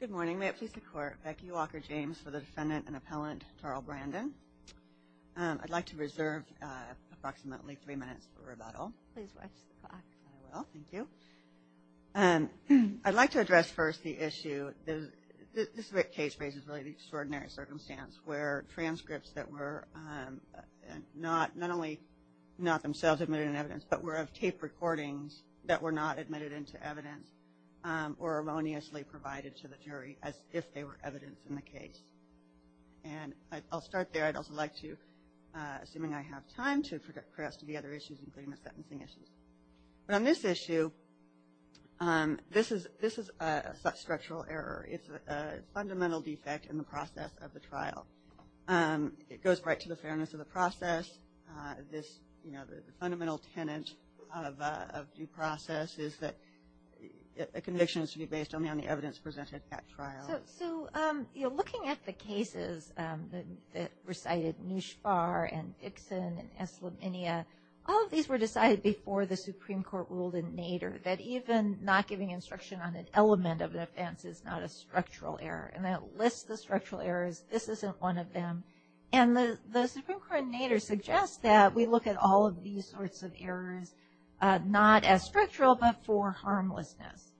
Good morning. May it please the Court, Becky Walker-James for the Defendant and Appellant Tarl Brandon. I'd like to reserve approximately three minutes for rebuttal. Please watch the clock. I will, thank you. I'd like to address first the issue, this case raises really an extraordinary circumstance where transcripts that were not only not themselves admitted in evidence, but were of tape recordings that were not admitted into evidence or erroneously provided to the jury as if they were evidence in the case. And I'll start there. I'd also like to, assuming I have time, to address the other issues, including the sentencing issues. But on this issue, this is a structural error. It's a fundamental defect in the process of the trial. It goes right to the fairness of the process. The fundamental tenet of due process is that a conviction is to be based only on the evidence presented at trial. So, looking at the cases that recited Nushfar and Ibsen and Eslaminia, all of these were decided before the Supreme Court ruled in Nader that even not giving instruction on an element of an offense is not a structural error. And that lists the structural errors, this isn't one of them. And the Supreme Court in Nader suggests that we look at all of these sorts of errors not as structural, but for harmlessness.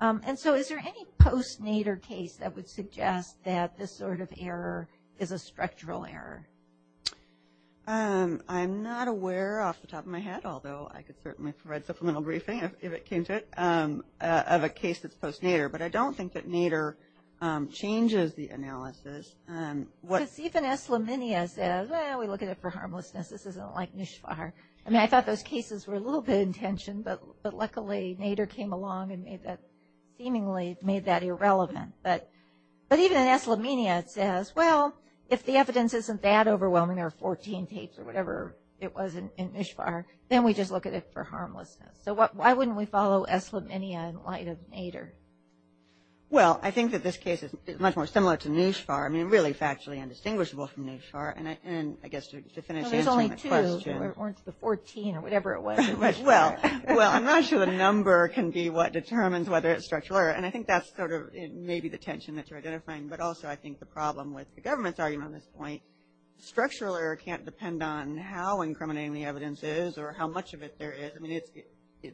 And so, is there any post-Nader case that would suggest that this sort of error is a structural error? I'm not aware off the top of my head, although I could certainly provide supplemental briefing if it came to it, of a case that's post-Nader. But I don't think that Nader changes the analysis. Because even Eslaminia says, well, we look at it for harmlessness, this isn't like Nushfar. I mean, I thought those cases were a little bit in tension, but luckily, Nader came along and made that, seemingly made that irrelevant. But even in Eslaminia, it says, well, if the evidence isn't that overwhelming, there are 14 tapes or whatever it was in Nushfar, then we just look at it for harmlessness. So, why wouldn't we follow Eslaminia in light of Nader? Well, I think that this case is much more similar to Nushfar. I mean, really factually indistinguishable from Nushfar, and I guess to finish answering the question. Well, there's only two, or it's the 14 or whatever it was in Nushfar. Well, I'm not sure the number can be what determines whether it's structural error. And I think that's sort of maybe the tension that you're identifying. But also, I think the problem with the government's argument on this point, structural error can't depend on how incriminating the evidence is or how much of it there is. I mean, it's,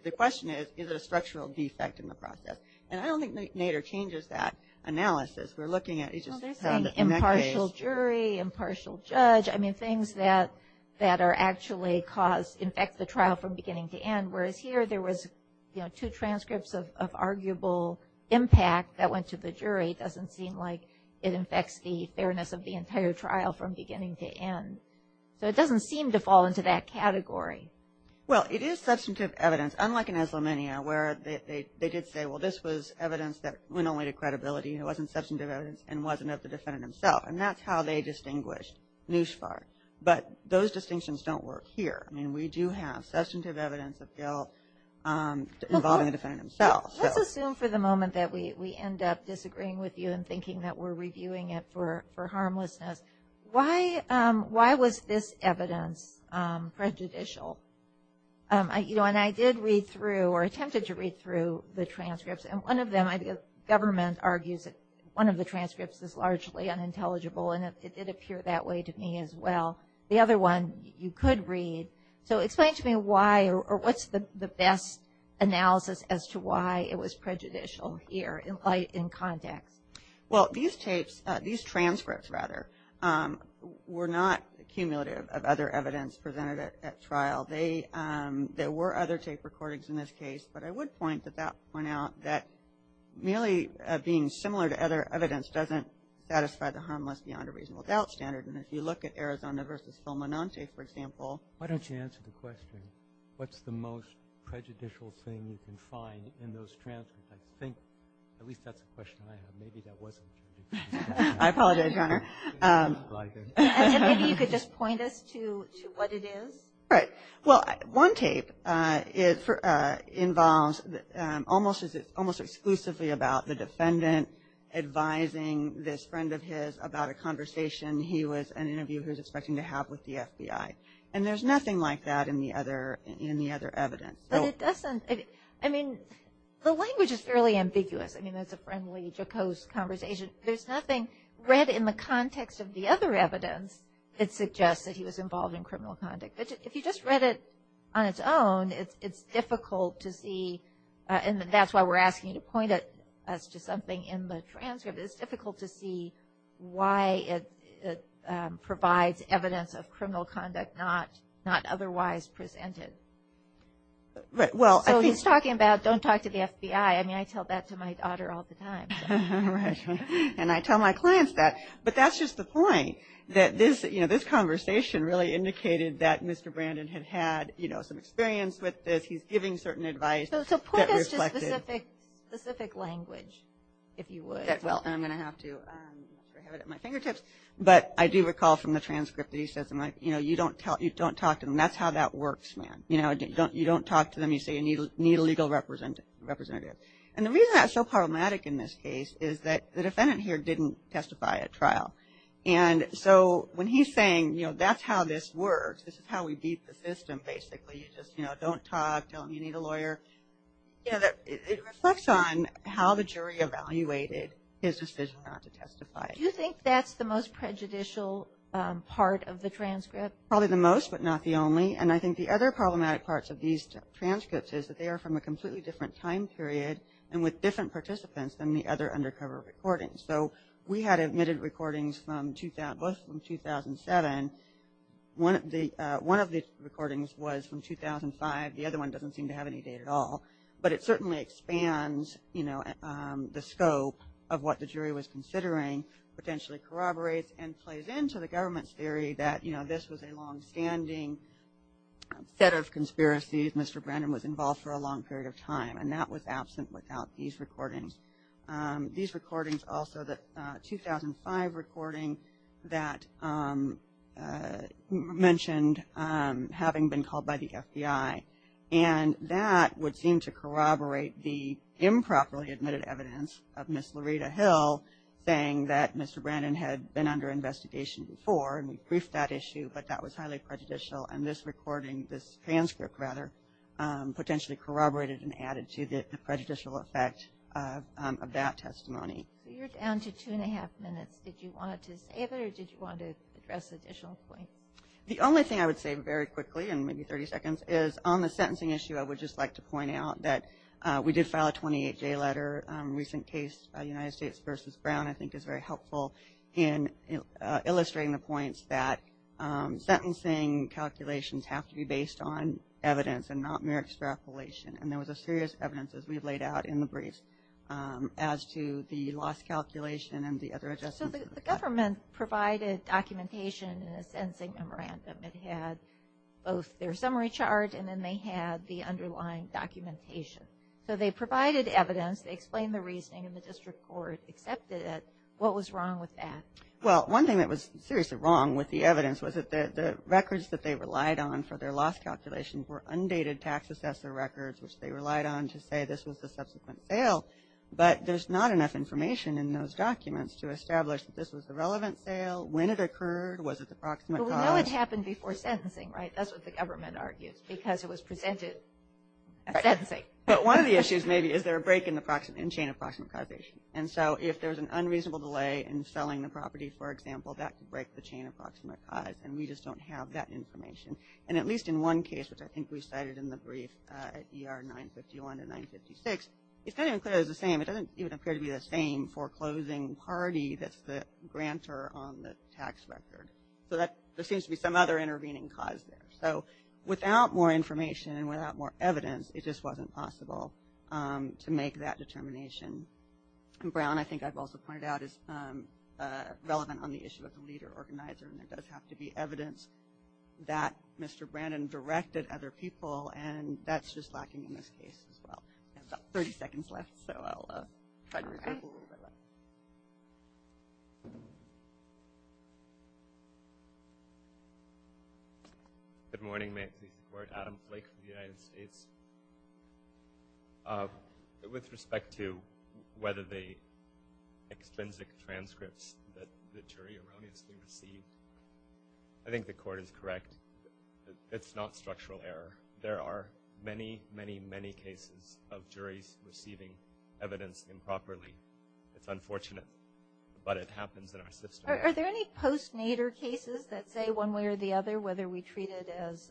the question is, is it a structural defect in the process? And I don't think Nader changes that analysis. We're looking at, it's just, in that case. Well, they're saying impartial jury, impartial judge. I mean, things that are actually cause, infect the trial from beginning to end. Whereas here, there was, you know, two transcripts of arguable impact that went to the jury. Doesn't seem like it infects the fairness of the entire trial from beginning to end. So, it doesn't seem to fall into that category. Well, it is substantive evidence. Unlike in Islamania, where they did say, well, this was evidence that went only to credibility. It wasn't substantive evidence and wasn't of the defendant himself. And that's how they distinguished Nushfar. But those distinctions don't work here. I mean, we do have substantive evidence of guilt involving the defendant himself. Let's assume for the moment that we end up disagreeing with you and thinking that we're reviewing it for harmlessness. Why was this evidence prejudicial? You know, and I did read through or attempted to read through the transcripts. And one of them, I think the government argues that one of the transcripts is largely unintelligible. And it did appear that way to me as well. The other one, you could read. So, explain to me why or what's the best analysis as to why it was prejudicial here in context? Well, these tapes, these transcripts rather, were not cumulative of other evidence presented at trial. There were other tape recordings in this case. But I would point out that merely being similar to other evidence doesn't satisfy the harmless beyond a reasonable doubt standard. And if you look at Arizona versus Phil Monante, for example. Why don't you answer the question, what's the most prejudicial thing you can find in those transcripts? I think, at least that's a question I have. Maybe that was a prejudicial question. I apologize, Your Honor. And maybe you could just point us to what it is. Right. Well, one tape involves almost exclusively about the defendant advising this friend of his about a conversation he was, an interviewer, was expecting to have with the FBI. And there's nothing like that in the other evidence. But it doesn't, I mean, the language is fairly ambiguous. I mean, it's a friendly, jocose conversation. There's nothing read in the context of the other evidence that suggests that he was involved in criminal conduct. But if you just read it on its own, it's difficult to see. And that's why we're asking you to point us to something in the transcript. It's difficult to see why it provides evidence of criminal conduct not otherwise presented. Right. Well, I think. So he's talking about don't talk to the FBI. I mean, I tell that to my daughter all the time. Right. And I tell my clients that. But that's just the point, that this, you know, this conversation really indicated that Mr. Brandon had had, you know, some experience with this. He's giving certain advice. So point us to specific language, if you would. Well, I'm going to have to have it at my fingertips. But I do recall from the transcript that he says, you know, you don't talk to him. That's how that works, man. You know, you don't talk to them. You say you need a legal representative. And the reason that's so problematic in this case is that the defendant here didn't testify at trial. And so when he's saying, you know, that's how this works. This is how we beat the system, basically. You just, you know, don't talk. Tell him you need a lawyer. You know, it reflects on how the jury evaluated his decision not to testify. Do you think that's the most prejudicial part of the transcript? Probably the most, but not the only. And I think the other problematic parts of these transcripts is that they are from a completely different time period and with different participants than the other undercover recordings. So we had admitted recordings from 2007. One of the recordings was from 2005. The other one doesn't seem to have any data at all. But it certainly expands, you know, the scope of what the jury was considering, potentially corroborates and plays into the government's theory that, you know, this was a longstanding set of conspiracies. Mr. Brennan was involved for a long period of time. And that was absent without these recordings. These recordings also, the 2005 recording that mentioned having been called by the FBI. And that would seem to corroborate the improperly admitted evidence of Ms. Loretta Hill saying that Mr. Brennan had been under investigation before. And we proofed that issue. But that was highly prejudicial. And this recording, this transcript rather, potentially corroborated and added to the prejudicial effect of that testimony. So you're down to two and a half minutes. Did you want to save it or did you want to address additional points? The only thing I would say very quickly, in maybe 30 seconds, is on the sentencing issue, I would just like to point out that we did file a 28-day letter. Recent case, United States v. Brown, I think is very helpful in illustrating the points that sentencing calculations have to be based on evidence and not mere extrapolation. And there was a serious evidence, as we've laid out in the brief, as to the lost calculation and the other adjustments. So the government provided documentation in a sentencing memorandum. It had both their summary chart and then they had the underlying documentation. So they provided evidence. They explained the reasoning and the district court accepted it. What was wrong with that? Well, one thing that was seriously wrong with the evidence was that the records that they relied on for their lost calculations were undated tax assessor records, which they relied on to say this was the subsequent sale. But there's not enough information in those documents to establish that this was the relevant sale, when it occurred, was it the proximate cause. But we know it happened before sentencing, right? That's what the government argues, because it was presented as sentencing. But one of the issues, maybe, is there a break in the chain of proximate causation. And so if there's an unreasonable delay in selling the property, for example, that could break the chain of proximate cause. And we just don't have that information. And at least in one case, which I think we cited in the brief at ER 951 and 956, it's not even clear it was the same. It doesn't even appear to be the same foreclosing party that's the grantor on the tax record. So there seems to be some other intervening cause there. So without more information and without more evidence, it just wasn't possible to make that determination. And Brown, I think I've also pointed out, is relevant on the issue of the leader organizer. And there does have to be evidence that Mr. Brandon directed other people. And that's just lacking in this case, as well. We have about 30 seconds left. So I'll try to reserve a little bit of that. Good morning. May I please record Adam Blake from the United States. With respect to whether the extrinsic transcripts that the jury erroneously received, I think the court is correct. It's not structural error. There are many, many, many cases of juries receiving evidence improperly. It's unfortunate, but it happens in our system. Are there any post-Nader cases that say one way or the other, whether we treat it as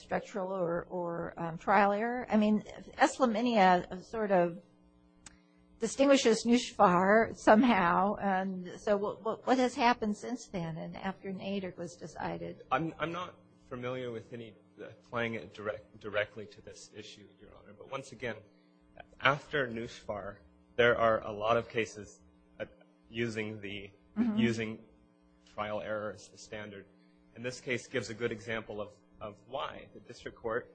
structural or trial error? I mean, Eslaminia sort of distinguishes Nushfar somehow. And so what has happened since then and after Nader was decided? I'm not familiar with any playing it directly to this issue, Your Honor. But once again, after Nushfar, there are a lot of cases using trial error as the standard. And this case gives a good example of why. The district court,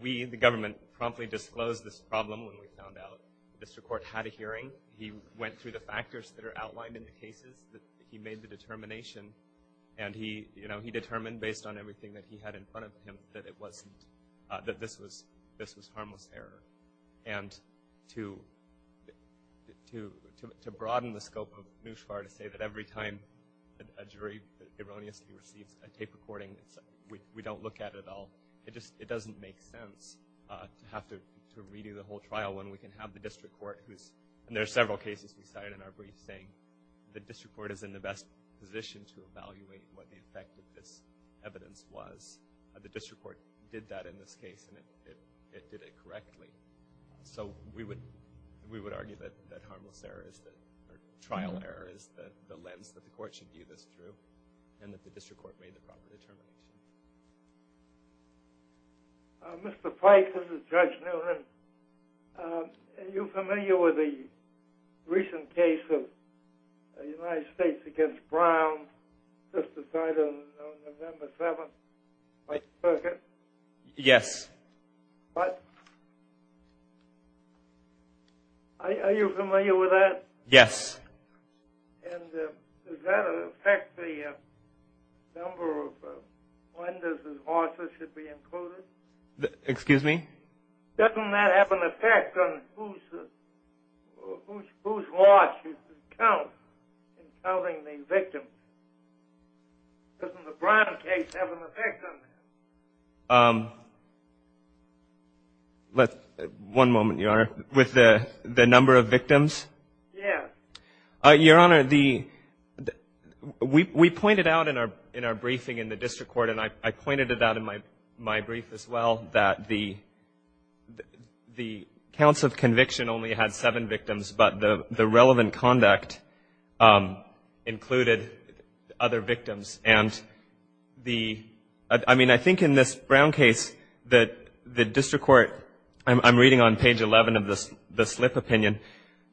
we, the government, promptly disclosed this problem when we found out the district court had a hearing. He went through the factors that are outlined in the cases that he made the determination. And he, you know, he determined based on everything that he had in front of him that it wasn't, that this was harmless error. And to broaden the scope of Nushfar to say that every time a jury erroneously receives a tape recording, we don't look at it at all. It just, it doesn't make sense to have to redo the whole trial when we can have the district court who's, and there are several cases we cited in our brief saying the district court is in the best position to evaluate what the effect of this evidence was. The district court did that in this case, and it did it correctly. So we would argue that harmless error is the, or trial error is the lens that the court should view this through, and that the district court made the proper determination. Mr. Pike, this is Judge Noonan. Are you familiar with the recent case of the United States against Brown, just decided on November 7th by the circuit? Yes. But, are you familiar with that? Yes. And does that affect the number of offenders whose losses should be included? Excuse me? Doesn't that have an effect on whose loss you should count in counting the victims? Doesn't the Brown case have an effect on that? Let's, one moment, Your Honor. With the number of victims? Yes. Your Honor, we pointed out in our briefing in the district court, and I pointed it out in my brief as well, that the counts of conviction only had seven victims, but the relevant conduct included other victims. And I mean, I think in this Brown case that the district court, I'm reading on page 11 of the slip opinion,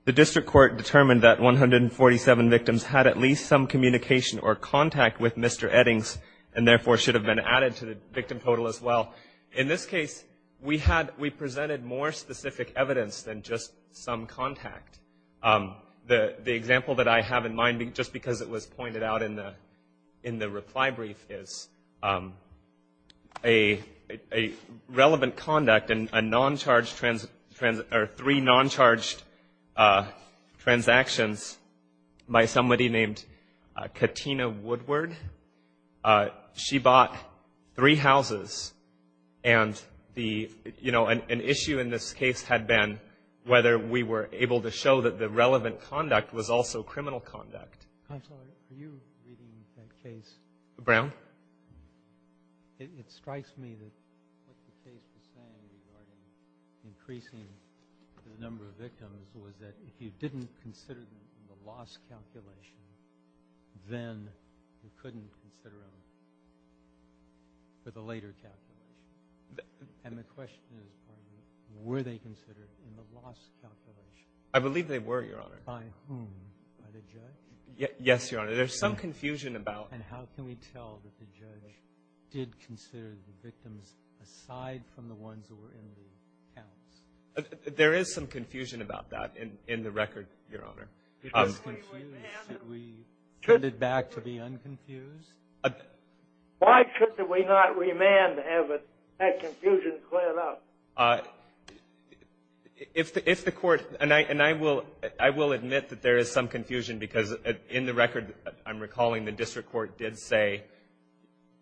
the district court determined that 147 victims had at least some communication or contact with Mr. Eddings, and therefore should have been added to the victim total as well. In this case, we presented more specific evidence than just some contact. The example that I have in mind, just because it was pointed out in the reply brief, is a relevant conduct and a non-charged, or three non-charged transactions by somebody named Katina Woodward. She bought three houses, and the, you know, an issue in this case had been whether we were able to show that the relevant conduct was also criminal conduct. Counsel, are you reading that case? Brown? It strikes me that what the case was saying regarding increasing the number of victims was that if you didn't consider them in the loss calculation, then you couldn't consider them for the later calculation. And the question is, were they considered in the loss calculation? I believe they were, Your Honor. By whom? By the judge? Yes, Your Honor. There's some confusion about... And how can we tell that the judge did consider the victims aside from the ones that were in the house? There is some confusion about that in the record, Your Honor. If it was confused, should we turn it back to be unconfused? Why should we not remand to have that confusion cleared up? If the court, and I will admit that there is some confusion, because in the record, I'm recalling the district court did say,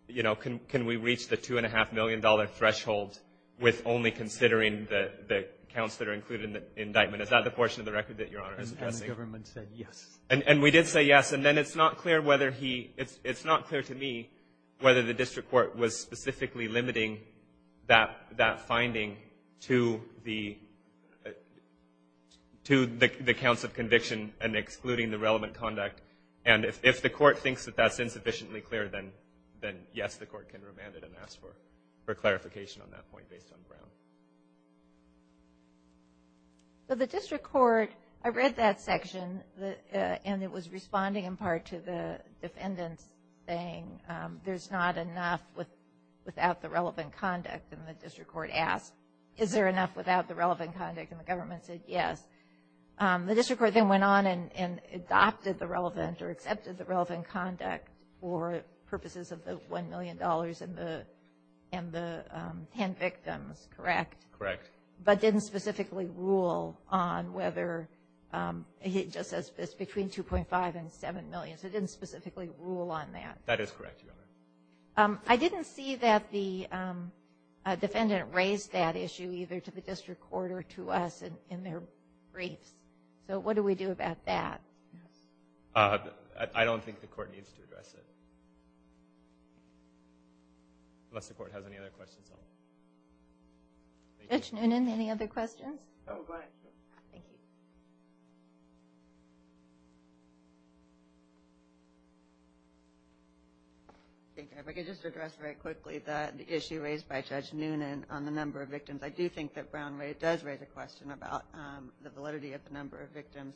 you know, can we reach the $2.5 million threshold with only considering the counts that are included in the indictment? Is that the portion of the record that Your Honor is addressing? And the government said yes. And we did say yes, and then it's not clear whether he, it's not clear to me whether the district court was specifically limiting that finding to the counts of conviction and excluding the relevant conduct. And if the court thinks that that's insufficiently clear, then yes, the court can remand it and ask for clarification on that point based on Brown. So the district court, I read that section, and it was responding in part to the defendant's thing, there's not enough without the relevant conduct. And the district court asked, is there enough without the relevant conduct? And the government said yes. The district court then went on and adopted the relevant or accepted the relevant conduct for purposes of the $1 million and the 10 victims, correct? Correct. But didn't specifically rule on whether, it just says between $2.5 and $7 million. So it didn't specifically rule on that. That is correct, Your Honor. I didn't see that the defendant raised that issue either to the district court or to us in their briefs. So what do we do about that? I don't think the court needs to address it unless the court has any other questions. Judge Noonan, any other questions? Oh, go ahead. Thank you. If I could just address very quickly the issue raised by Judge Noonan on the number of victims. I do think that Brown does raise a question about the validity of the number of victims.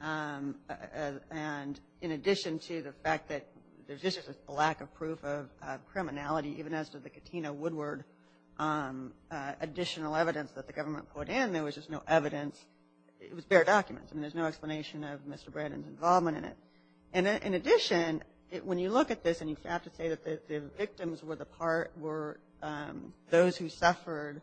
And in addition to the fact that there's just a lack of proof of criminality, even as to the Katina Woodward additional evidence that the government put in, there was just no evidence, it was bare documents. I mean, there's no explanation of Mr. Brandon's involvement in it. And in addition, when you look at this, and you have to say that the victims were those who suffered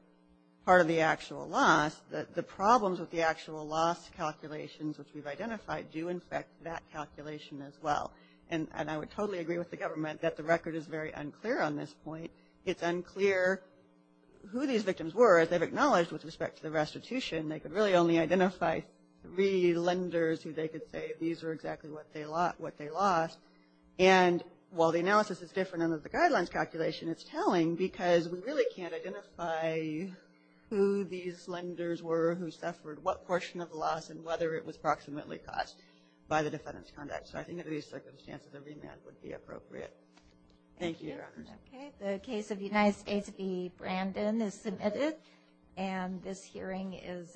part of the actual loss, the problems with the actual loss calculations which we've identified do infect that calculation as well. And I would totally agree with the government that the record is very unclear on this point. It's unclear who these victims were as they've acknowledged with respect to the restitution. They could really only identify three lenders who they could say these are exactly what they lost. And while the analysis is different under the guidelines calculation, it's telling because we really can't identify who these lenders were, who suffered what portion of the loss, and whether it was approximately caused by the defendant's conduct. So I think under these circumstances, a remand would be appropriate. Thank you, Your Honors. Okay. The case of United States v. Brandon is submitted. And this hearing is adjourned.